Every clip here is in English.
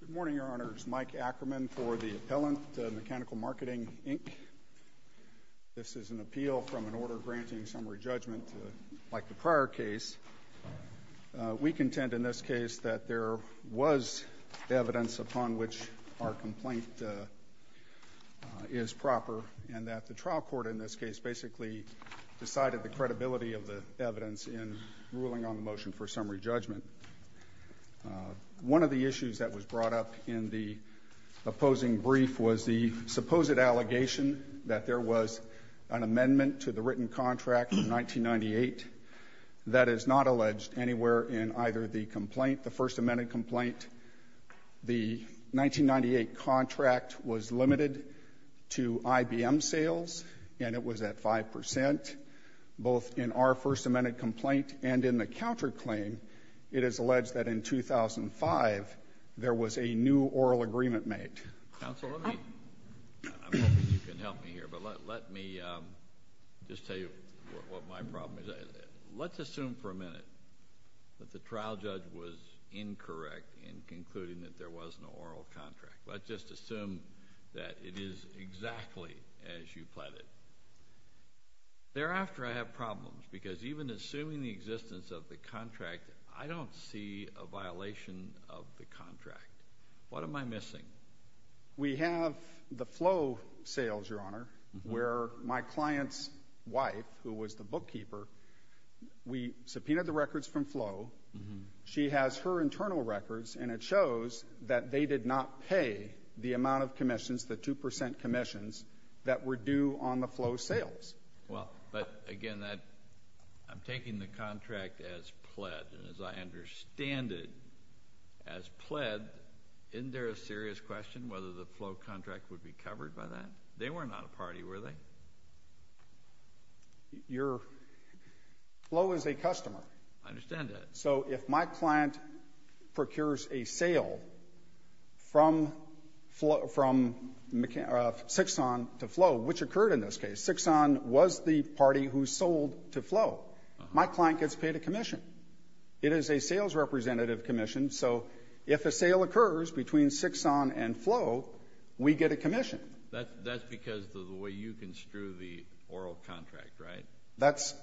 Good morning, Your Honors. Mike Ackerman for the Appellant, Mechanical Marketing, Inc. This is an appeal from an order granting summary judgment like the prior case. We contend in this case that there was evidence upon which our complaint is proper, and that the trial court in this case basically decided the credibility of the evidence in ruling on the motion for summary judgment. One of the issues that was brought up in the opposing brief was the supposed allegation that there was an amendment to the written contract in 1998 that is not alleged anywhere in either the complaint, the First Amendment complaint. The 1998 contract was limited to IBM sales, and it was at 5 percent, both in our First Amendment complaint and in the counterclaim. It is alleged that in 2005 there was a new oral agreement made. Counsel, I'm hoping you can help me here, but let me just tell you what my problem is. Let's assume for a minute that the trial judge was incorrect in concluding that there was no oral contract. Let's just assume that it is exactly as you pled it. Thereafter, I have problems, because even assuming the existence of the contract, I don't see a violation of the contract. What am I missing? We have the Flo sales, Your Honor, where my client's wife, who was the bookkeeper, we subpoenaed the records from Flo. She has her internal records, and it shows that they did not pay the amount of commissions, the 2 percent commissions, that were due on the Flo sales. Well, but again, I'm taking the contract as pled, and as I understand it, as pled, isn't there a serious question whether the Flo contract would be covered by that? They were not a party, were they? Flo is a customer. I understand that. So if my client procures a sale from Sixon to Flo, which occurred in this case, Sixon was the party who sold to Flo, my client gets paid a commission. It is a sales representative commission. So if a sale occurs between Sixon and Flo, we get a commission. That's because of the way you construe the oral contract, right?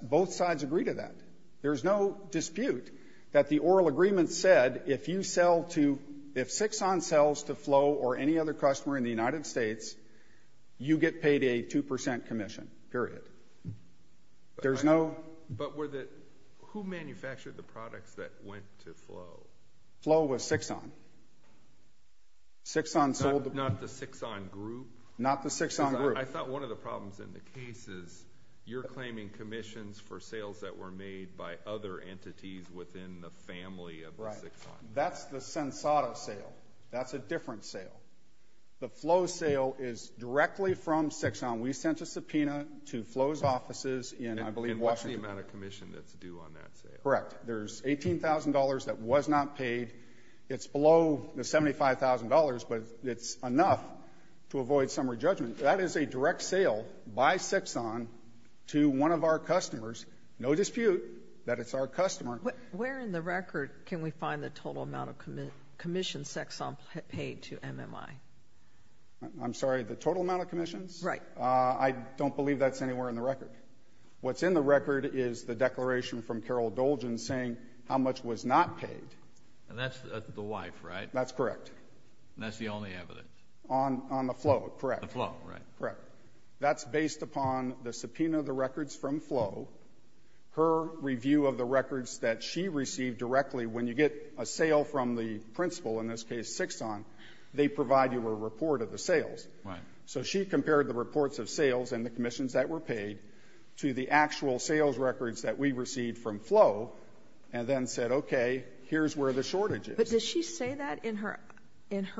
Both sides agree to that. There's no dispute that the oral agreement said, if Sixon sells to Flo or any other customer in the United States, you get paid a 2 percent commission, period. There's no – But were the – who manufactured the products that went to Flo? Flo was Sixon. Sixon sold – Not the Sixon group? Not the Sixon group. I thought one of the problems in the case is you're claiming commissions for sales that were made by other entities within the family of Sixon. That's the Sensato sale. That's a different sale. The Flo sale is directly from Sixon. We sent a subpoena to Flo's offices in, I believe, Washington. And what's the amount of commission that's due on that sale? Correct. There's $18,000 that was not paid. It's below the $75,000, but it's enough to avoid summary judgment. That is a direct sale by Sixon to one of our customers. No dispute that it's our customer. Where in the record can we find the total amount of commissions Sixon paid to MMI? I'm sorry, the total amount of commissions? Right. I don't believe that's anywhere in the record. What's in the record is the declaration from Carol Dolgen saying how much was not paid. And that's the wife, right? That's correct. And that's the only evidence? On the Flo, correct. The Flo, right. Correct. That's based upon the subpoena of the records from Flo, her review of the records that she received directly when you get a sale from the principal, in this case Sixon, they provide you a report of the sales. Right. So she compared the reports of sales and the commissions that were paid to the actual sales records that we received from Flo, and then said, okay, here's where the shortage But does she say that in her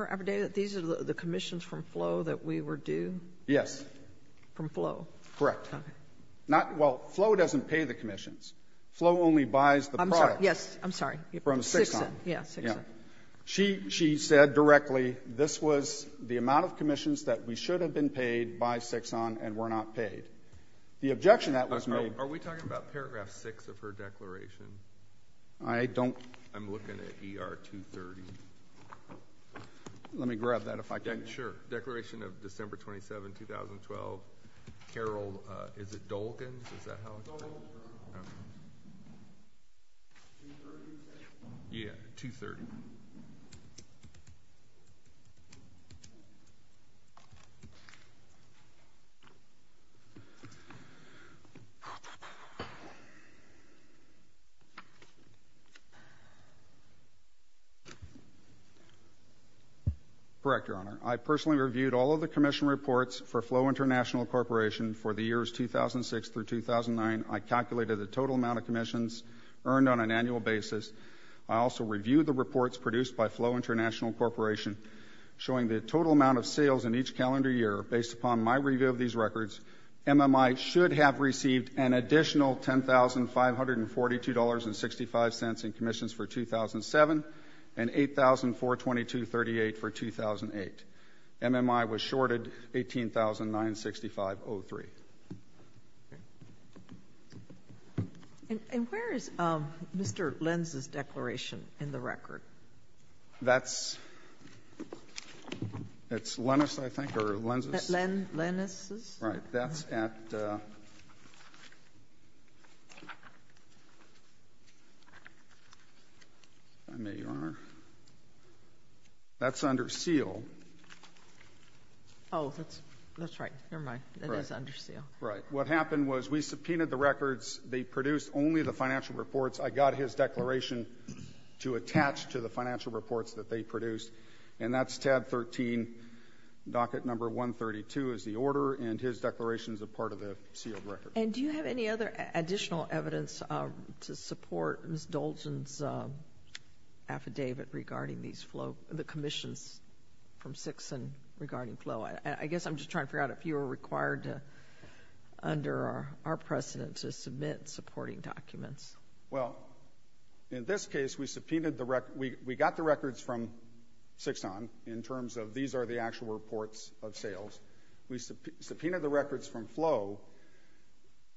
everyday that these are the commissions from Flo that we were due? Yes. From Flo? Correct. Okay. Not well, Flo doesn't pay the commissions. Flo only buys the product. I'm sorry. Yes. I'm sorry. From Sixon. Yeah. Sixon. She said directly this was the amount of commissions that we should have been paid by Sixon and were not paid. The objection that was made Are we talking about paragraph 6 of her declaration? I don't. I'm looking at ER 230. Let me grab that if I can. Sure. Declaration of December 27, 2012. Carol, is it Dolgen? Is that how it's written? Dolgen. Okay. 230, you said? Yeah. 230. Okay. Correct, Your Honor. I personally reviewed all of the commission reports for Flo International Corporation for the years 2006 through 2009. I calculated the total amount of commissions earned on an annual basis. I also reviewed the reports produced by Flo International Corporation, showing the total amount of sales in each calendar year. Based upon my review of these records, MMI should have received an additional $10,542.65 in commissions for 2007 and $8,422.38 for 2008. MMI was shorted $18,965.03. And where is Mr. Lenz's declaration in the record? That's Lenz's, I think, or Lenz's? Lenz's. Right. That's under seal. Oh, that's right. Never mind. It is under seal. Right. What happened was we subpoenaed the records. They produced only the financial reports. I got his declaration to attach to the financial reports that they produced. And that's tab 13, docket number 132 is the order. And his declaration is a part of the sealed record. And do you have any other additional evidence to support Ms. Dolgen's affidavit regarding these flows, the commissions from CIXON regarding flow? I guess I'm just trying to figure out if you were required under our precedent to submit supporting documents. Well, in this case, we subpoenaed the record. We got the records from CIXON in terms of these are the actual reports of sales. We subpoenaed the records from flow.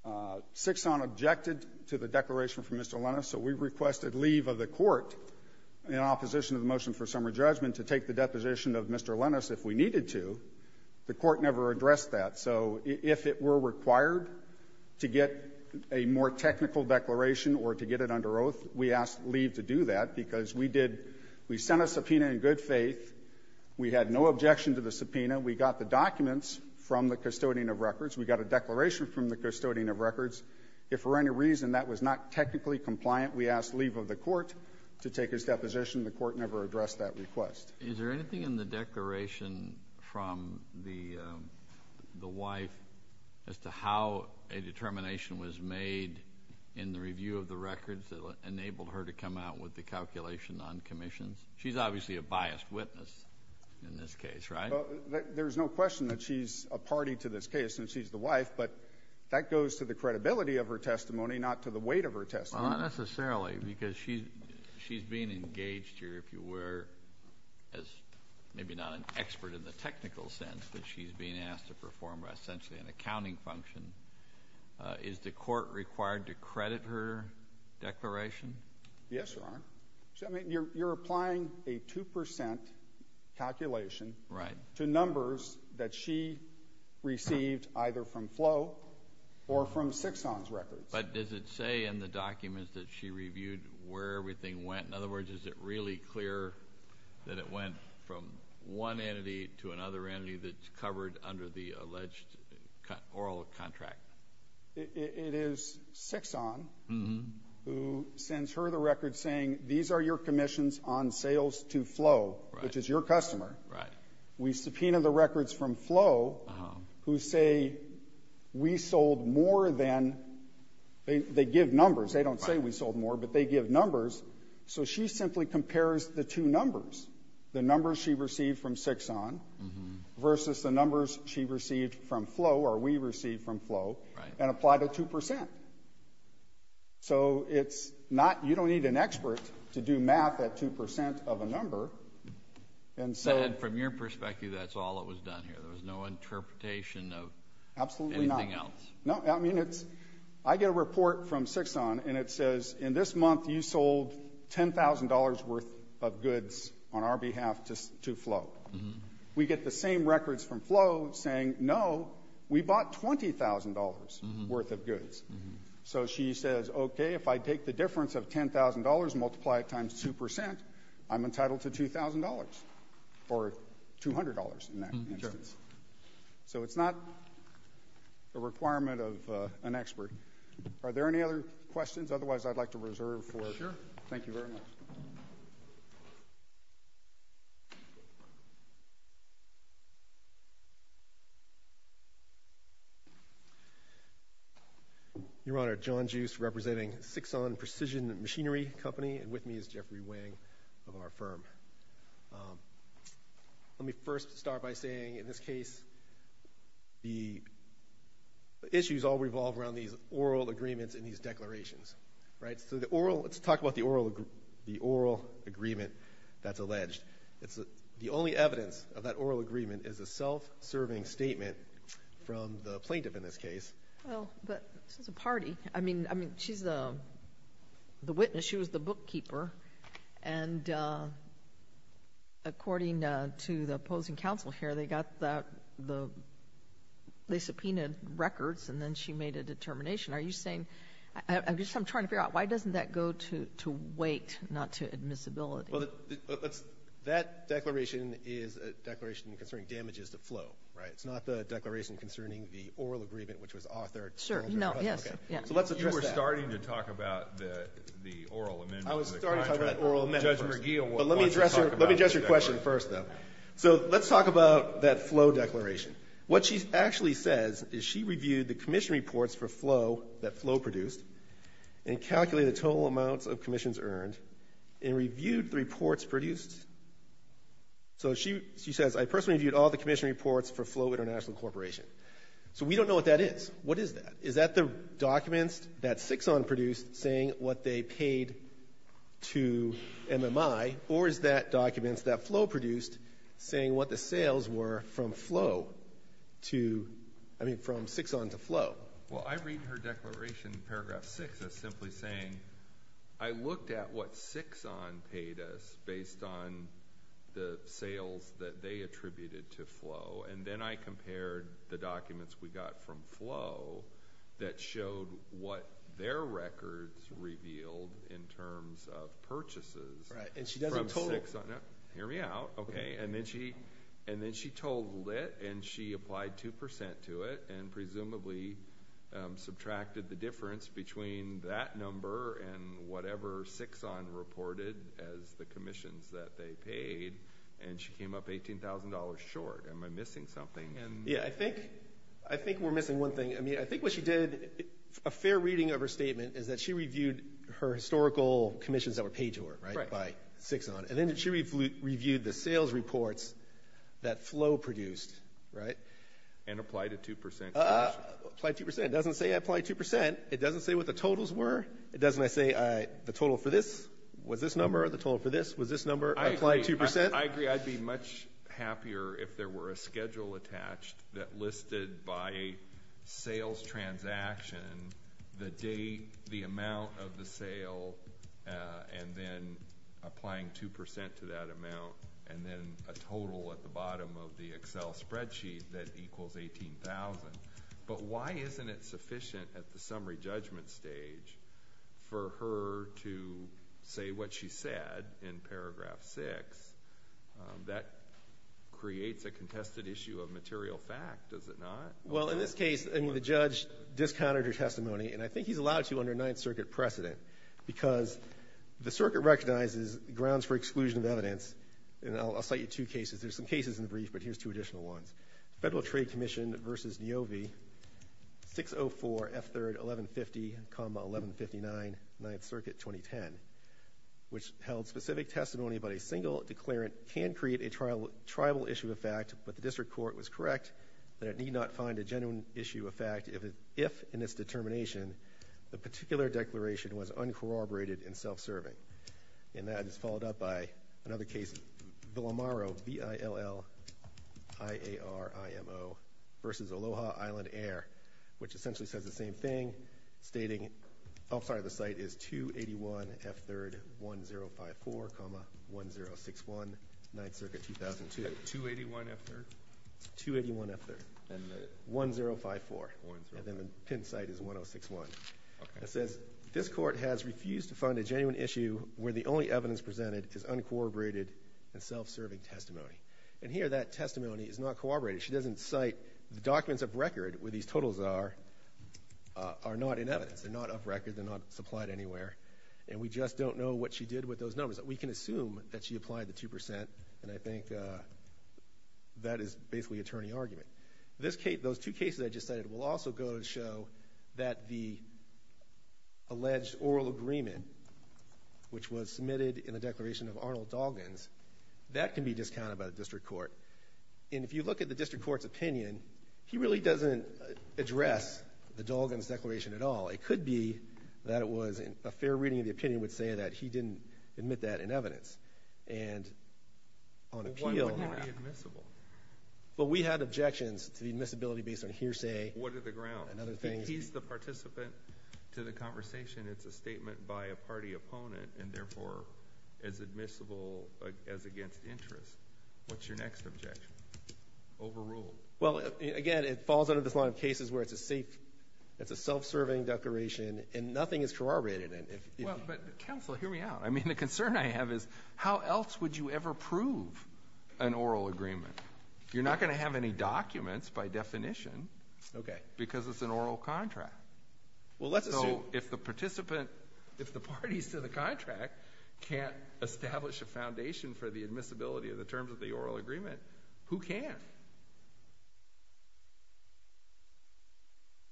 CIXON objected to the declaration from Mr. Lenz. So we requested leave of the court in opposition of the motion for summary judgment to take the deposition of Mr. Lenz if we needed to. The court never addressed that. So if it were required to get a more technical declaration or to get it under oath, we asked leave to do that because we did we sent a subpoena in good faith. We had no objection to the subpoena. We got the documents from the custodian of records. We got a declaration from the custodian of records. If for any reason that was not technically compliant, we asked leave of the court to take his deposition. The court never addressed that request. Is there anything in the declaration from the wife as to how a determination was made in the review of the records that enabled her to come out with the calculation on commissions? She's obviously a biased witness in this case, right? There's no question that she's a party to this case and she's the wife, but that goes to the credibility of her testimony, not to the weight of her testimony. Well, not necessarily because she's being engaged here, if you were, as maybe not an expert in the technical sense, but she's being asked to perform essentially an accounting function. Is the court required to credit her declaration? Yes, Your Honor. You're applying a 2 percent calculation. Right. To numbers that she received either from Flo or from Sixon's records. But does it say in the documents that she reviewed where everything went? In other words, is it really clear that it went from one entity to another entity that's covered under the alleged oral contract? It is Sixon who sends her the record saying, these are your commissions on sales to Flo, which is your customer. Right. We subpoena the records from Flo who say we sold more than they give numbers. They don't say we sold more, but they give numbers. So she simply compares the two numbers, the numbers she received from Sixon versus the numbers she received from Flo or we received from Flo and applied a 2 percent. So it's not, you don't need an expert to do math at 2 percent of a number. And from your perspective, that's all that was done here. There was no interpretation of anything else. Absolutely not. No, I mean it's, I get a report from Sixon and it says in this month you sold $10,000 worth of goods on our behalf to Flo. We get the same records from Flo saying, no, we bought $20,000 worth of goods. So she says, okay, if I take the difference of $10,000 and multiply it times 2 percent, I'm entitled to $2,000 or $200 in that instance. Sure. So it's not a requirement of an expert. Are there any other questions? Otherwise, I'd like to reserve for. Sure. Thank you very much. Your Honor, John Juice representing Sixon Precision Machinery Company, and with me is Jeffrey Wang of our firm. Let me first start by saying in this case the issues all revolve around these oral agreements and these declarations. Right? So the oral, let's talk about the oral agreement that's alleged. The only evidence of that oral agreement is a self-serving statement from the plaintiff in this case. Well, but this is a party. I mean, she's the witness. She was the bookkeeper. And according to the opposing counsel here, they got the, they subpoenaed records and then she made a determination. Are you saying, I'm just trying to figure out why doesn't that go to weight, not to admissibility? Well, that declaration is a declaration concerning damages to flow. Right? It's not the declaration concerning the oral agreement, which was authored. Sure. No. Yes. Okay. So let's address that. You were starting to talk about the oral amendment. I was starting to talk about the oral amendment. Judge McGill wants to talk about that. But let me address your question first, though. So let's talk about that flow declaration. What she actually says is she reviewed the commission reports for flow that flow produced and calculated the total amounts of commissions earned and reviewed the reports produced. So she says, I personally reviewed all the commission reports for flow international corporation. So we don't know what that is. What is that? Is that the documents that Sixon produced saying what they paid to MMI, or is that documents that flow produced saying what the sales were from flow to, I mean, from Sixon to flow? Well, I read her declaration in paragraph six as simply saying I looked at what Sixon paid us based on the sales that they attributed to flow. And then I compared the documents we got from flow that showed what their records revealed in terms of purchases. Right. And she doesn't total. Hear me out. Okay. And then she told lit and she applied 2% to it and presumably subtracted the difference between that number and whatever Sixon reported as the commissions that they paid. And she came up $18,000 short. Am I missing something? Yeah, I think we're missing one thing. I mean, I think what she did, a fair reading of her statement, is that she reviewed her historical commissions that were paid to her, right, by Sixon. And then she reviewed the sales reports that flow produced, right? And applied a 2% commission. Applied 2%. It doesn't say I applied 2%. It doesn't say what the totals were. It doesn't say the total for this was this number, the total for this was this number. I applied 2%. I agree. I'd be much happier if there were a schedule attached that listed by sales transaction the date, the amount of the sale, and then applying 2% to that amount, and then a total at the bottom of the Excel spreadsheet that equals $18,000. But why isn't it sufficient at the summary judgment stage for her to say what she said in paragraph 6? That creates a contested issue of material fact, does it not? Well, in this case, I mean, the judge discounted her testimony. And I think he's allowed to under Ninth Circuit precedent because the circuit recognizes grounds for exclusion of evidence. And I'll cite you two cases. There's some cases in the brief, but here's two additional ones. Federal Trade Commission v. Niovi, 604 F3rd 1150, 1159 Ninth Circuit, 2010, which held specific testimony about a single declarant can create a tribal issue of fact, but the district court was correct that it need not find a genuine issue of fact if, in its determination, the particular declaration was uncorroborated and self-serving. And that is followed up by another case, Villamaro, V-I-L-L-I-A-R-I-M-O v. Aloha Island Air, which essentially says the same thing, stating, oh, sorry, the site is 281 F3rd 1054, 1061 Ninth Circuit, 2002. 281 F3rd? 281 F3rd. And the? 1054. 1054. And then the pinned site is 1061. Okay. And it says, this court has refused to find a genuine issue where the only evidence presented is uncorroborated and self-serving testimony. And here that testimony is not corroborated. She doesn't cite the documents of record where these totals are, are not in evidence. They're not up record. They're not supplied anywhere. And we just don't know what she did with those numbers. We can assume that she applied the 2%, and I think that is basically attorney argument. Those two cases I just cited will also go to show that the alleged oral agreement, which was submitted in the declaration of Arnold Dalgans, that can be discounted by the district court. And if you look at the district court's opinion, he really doesn't address the Dalgans declaration at all. It could be that it was a fair reading of the opinion would say that he didn't admit that in evidence. And on appeal. Why wouldn't it be admissible? Well, we had objections to the admissibility based on hearsay. What are the grounds? And other things. He's the participant to the conversation. It's a statement by a party opponent, and therefore as admissible as against interest. What's your next objection? Overruled. Well, again, it falls under this line of cases where it's a safe, it's a self-serving declaration, and nothing is corroborated. Well, but counsel, hear me out. I mean, the concern I have is how else would you ever prove an oral agreement? You're not going to have any documents by definition because it's an oral contract. So if the participant, if the parties to the contract can't establish a foundation for the admissibility of the terms of the oral agreement, who can?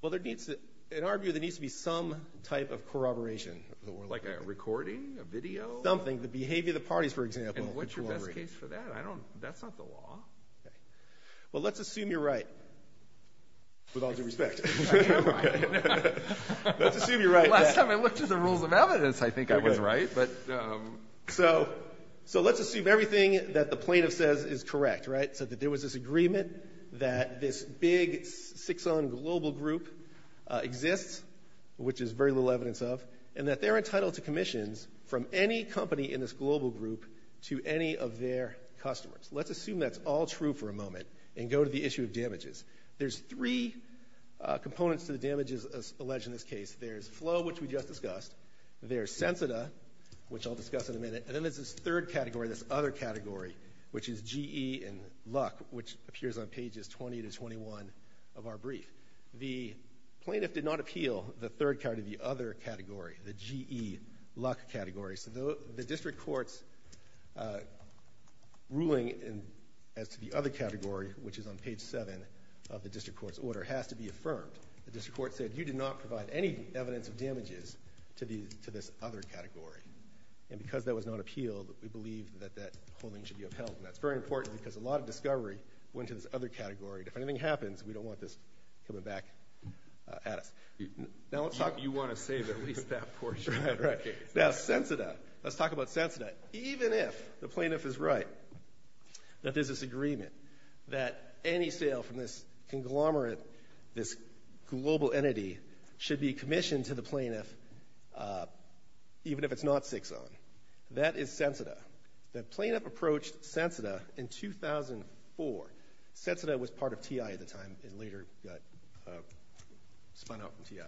Well, there needs to be some type of corroboration. Like a recording, a video? Something. The behavior of the parties, for example. And what's your best case for that? That's not the law. Well, let's assume you're right. With all due respect. I am right. Let's assume you're right. Last time I looked at the rules of evidence, I think I was right. So let's assume everything that the plaintiff says is correct, right? That there was this agreement that this big six-on global group exists, which is very little evidence of, and that they're entitled to commissions from any company in this global group to any of their customers. Let's assume that's all true for a moment and go to the issue of damages. There's three components to the damages alleged in this case. There's Flo, which we just discussed. There's Sensita, which I'll discuss in a minute. And then there's this third category, this other category, which is GE and Luck, which appears on pages 20 to 21 of our brief. The plaintiff did not appeal the third category, the other category, the GE Luck category. So the district court's ruling as to the other category, which is on page 7 of the district court's order, has to be affirmed. The district court said you did not provide any evidence of damages to this other category. And because that was not appealed, we believe that that holding should be upheld. And that's very important because a lot of discovery went to this other category. If anything happens, we don't want this coming back at us. Now, let's talk. You want to save at least that portion. Right, right. Now, Sensita, let's talk about Sensita. Even if the plaintiff is right that there's this agreement that any sale from this conglomerate, this global entity, should be commissioned to the plaintiff, even if it's not 6-0. That is Sensita. The plaintiff approached Sensita in 2004. Sensita was part of TI at the time and later got spun out from TI.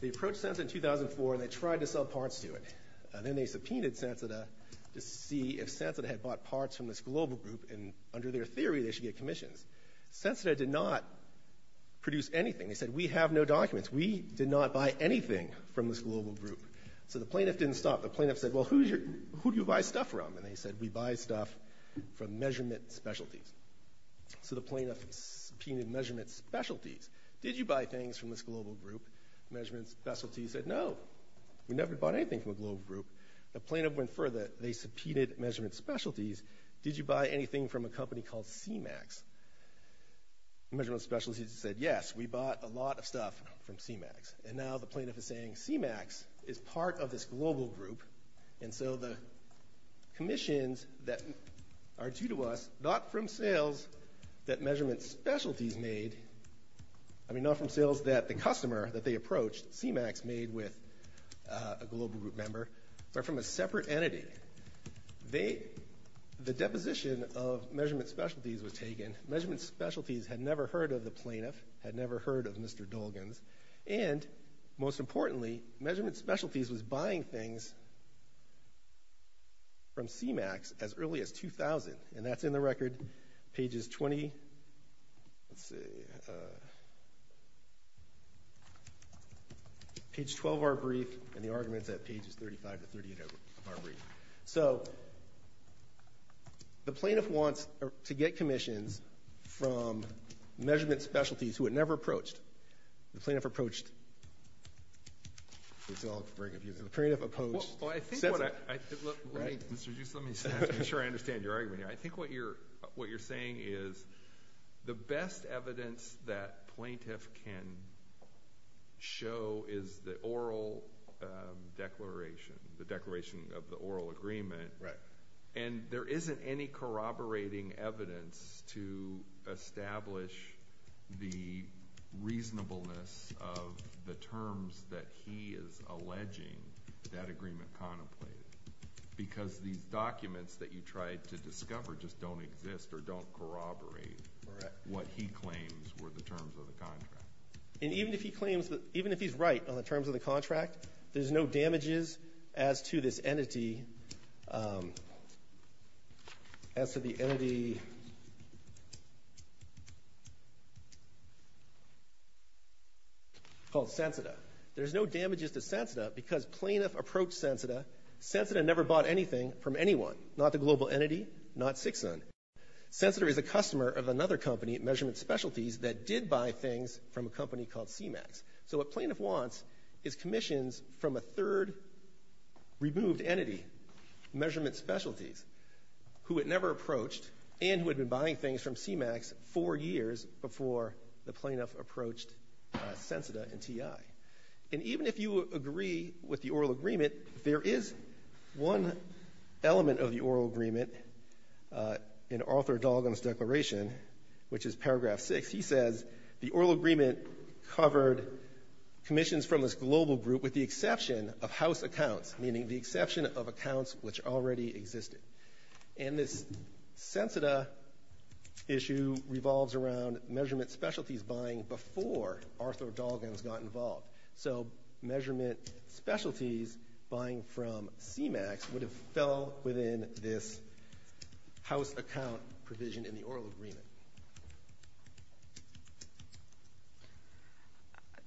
They approached Sensita in 2004, and they tried to sell parts to it. And then they subpoenaed Sensita to see if Sensita had bought parts from this global group, and under their theory, they should get commissions. Sensita did not produce anything. They said, we have no documents. We did not buy anything from this global group. So the plaintiff didn't stop. The plaintiff said, well, who do you buy stuff from? And they said, we buy stuff from measurement specialties. So the plaintiff subpoenaed measurement specialties. Did you buy things from this global group, measurement specialties? They said, no. We never bought anything from a global group. The plaintiff went further. They subpoenaed measurement specialties. Did you buy anything from a company called CMAX? Measurement specialties said, yes, we bought a lot of stuff from CMAX. And now the plaintiff is saying, CMAX is part of this global group, and so the commissions that are due to us, not from sales that measurement specialties made, I mean, not from sales that the customer that they approached, CMAX, made with a global group member, are from a separate entity. The deposition of measurement specialties was taken. Measurement specialties had never heard of the plaintiff, had never heard of Mr. Dolgens. And most importantly, measurement specialties was buying things from CMAX as early as 2000, and that's in the record, pages 20, let's see, page 12 of our brief, and the argument's at pages 35 to 38 of our brief. So the plaintiff wants to get commissions from measurement specialties who had never approached. The plaintiff approached. It's all very confusing. The plaintiff approached. Well, I think what I— Right. Mr. Dues, let me just make sure I understand your argument here. I think what you're saying is the best evidence that plaintiff can show is the oral declaration, the declaration of the oral agreement. Right. And there isn't any corroborating evidence to establish the reasonableness of the terms that he is alleging that agreement contemplated because these documents that you tried to discover just don't exist or don't corroborate what he claims were the terms of the contract. And even if he claims—even if he's right on the terms of the contract, there's no damages as to this entity, as to the entity called Sensita. There's no damages to Sensita because plaintiff approached Sensita. Sensita never bought anything from anyone, not the global entity, not Csikszentmihalyi. Sensita is a customer of another company, measurement specialties, that did buy things from a company called CMAX. So what plaintiff wants is commissions from a third removed entity, measurement specialties, who had never approached and who had been buying things from CMAX four years before the plaintiff approached Sensita and TI. And even if you agree with the oral agreement, there is one element of the oral agreement in Arthur Dalgan's declaration, which is paragraph 6. He says the oral agreement covered commissions from this global group with the exception of house accounts, meaning the exception of accounts which already existed. And this Sensita issue revolves around measurement specialties buying before Arthur Dalgan's got involved. So measurement specialties buying from CMAX would have fell within this house account provision in the oral agreement.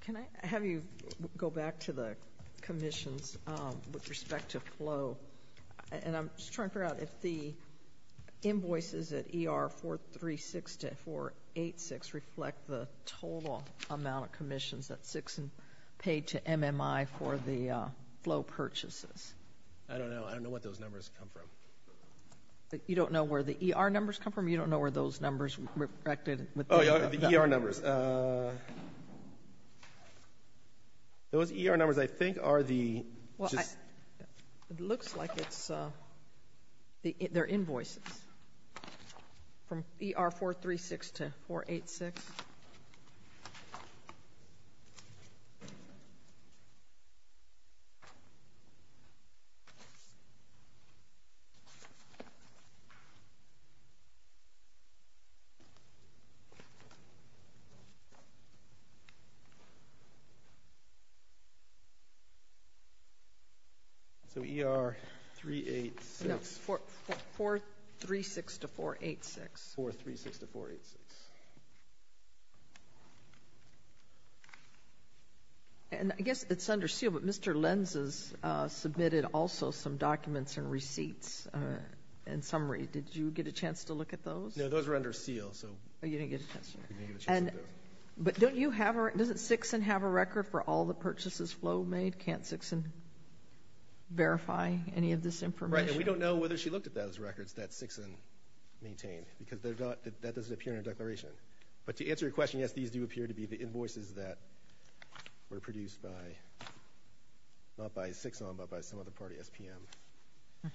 Thank you. Can I have you go back to the commissions with respect to flow? And I'm just trying to figure out if the invoices at ER 436 to 486 reflect the total amount of commissions that Csikszent paid to MMI for the flow purchases. I don't know. I don't know what those numbers come from. You don't know where the ER numbers come from? You don't know where those numbers reflected? Oh, yeah, the ER numbers. Those ER numbers, I think, are the just — Well, it looks like it's — they're invoices from ER 436 to 486. Okay. So ER 386 — No, 436 to 486. 436 to 486. And I guess it's under seal, but Mr. Lenz has submitted also some documents and receipts in summary. Did you get a chance to look at those? No, those were under seal, so — Oh, you didn't get a chance to look at those? We didn't get a chance to look at those. But don't you have a — doesn't Csikszent have a record for all the purchases flow made? Can't Csikszent verify any of this information? Right, and we don't know whether she looked at those records that Csikszent maintained, because that doesn't appear in her declaration. But to answer your question, yes, these do appear to be the invoices that were produced by — not by Csikszent, but by some other party, SPM.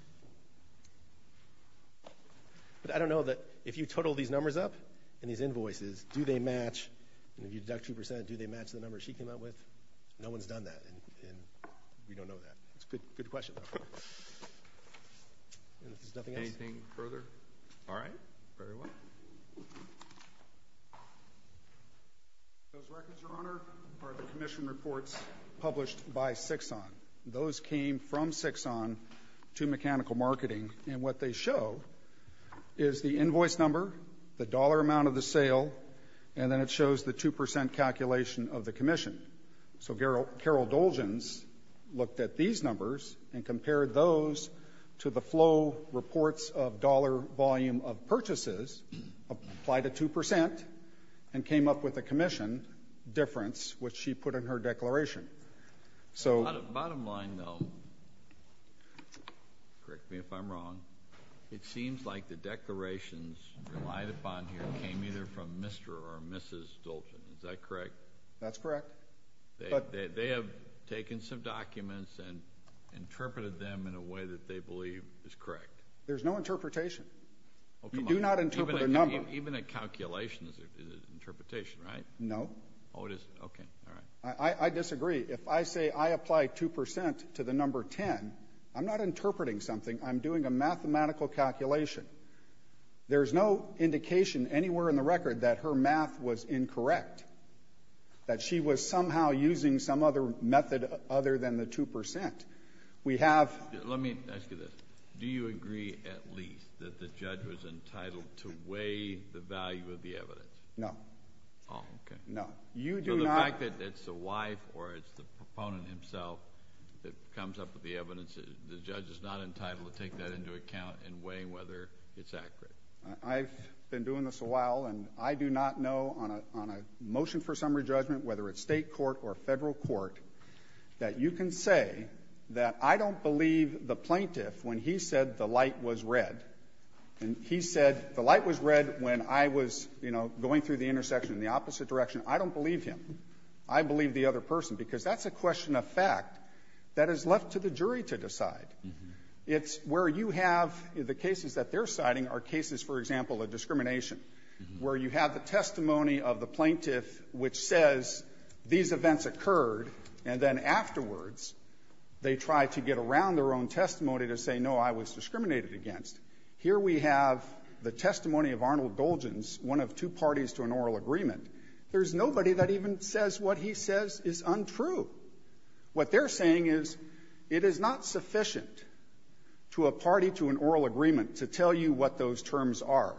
But I don't know that — if you total these numbers up and these invoices, do they match? And if you deduct 2 percent, do they match the numbers she came out with? No one's done that, and we don't know that. It's a good question, though. And if there's nothing else — Anything further? All right. Very well. Those records, Your Honor, are the commission reports published by Csikszent. Those came from Csikszent to Mechanical Marketing, and what they show is the invoice number, the dollar amount of the sale, and then it shows the 2 percent calculation of the commission. So Carol Dolgens looked at these numbers and compared those to the flow reports of dollar volume of purchases, applied a 2 percent, and came up with a commission difference, which she put in her declaration. So — Bottom line, though, correct me if I'm wrong, it seems like the declarations relied upon here came either from Mr. or Mrs. Dolgens. Is that correct? That's correct. They have taken some documents and interpreted them in a way that they believe is correct. There's no interpretation. You do not interpret a number. Even a calculation is an interpretation, right? No. Oh, it is? Okay. All right. I disagree. If I say I apply 2 percent to the number 10, I'm not interpreting something. I'm doing a mathematical calculation. There's no indication anywhere in the record that her math was incorrect, that she was somehow using some other method other than the 2 percent. We have — Let me ask you this. Do you agree at least that the judge was entitled to weigh the value of the evidence? No. Oh, okay. No. You do not — So the fact that it's the wife or it's the proponent himself that comes up with the evidence, the judge is not entitled to take that into account and weigh whether it's accurate. I've been doing this a while, and I do not know on a motion for summary judgment, whether it's State court or Federal court, that you can say that I don't believe the plaintiff when he said the light was red, and he said the light was red when I was, you know, going through the intersection in the opposite direction. I don't believe him. I believe the other person, because that's a question of fact that is left to the jury to decide. It's where you have the cases that they're citing are cases, for example, of discrimination, where you have the testimony of the plaintiff which says these events occurred, and then afterwards they try to get around their own testimony to say, no, I was discriminated against. Here we have the testimony of Arnold Dolgens, one of two parties to an oral agreement. There's nobody that even says what he says is untrue. What they're saying is it is not sufficient to a party to an oral agreement to tell you what those terms are.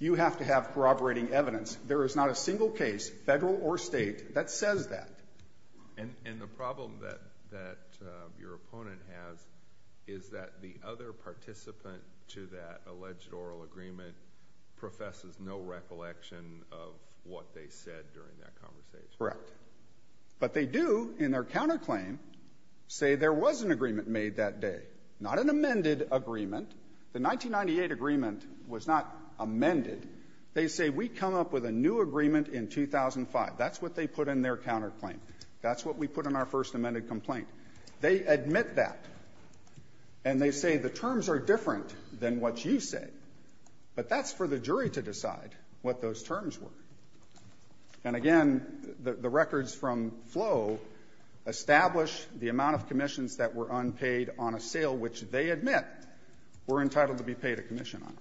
You have to have corroborating evidence. There is not a single case, Federal or State, that says that. And the problem that your opponent has is that the other participant to that alleged oral agreement professes no recollection of what they said during that conversation. Correct. But they do, in their counterclaim, say there was an agreement made that day, not an amended agreement. The 1998 agreement was not amended. They say we come up with a new agreement in 2005. That's what they put in their counterclaim. That's what we put in our first amended complaint. They admit that. And they say the terms are different than what you say. But that's for the jury to decide what those terms were. And, again, the records from Flo establish the amount of commissions that were unpaid on a sale which they admit were entitled to be paid a commission on.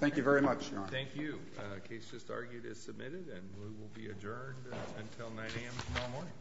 Thank you very much, Your Honor. Thank you. The case just argued is submitted and will be adjourned until 9 a.m. tomorrow morning.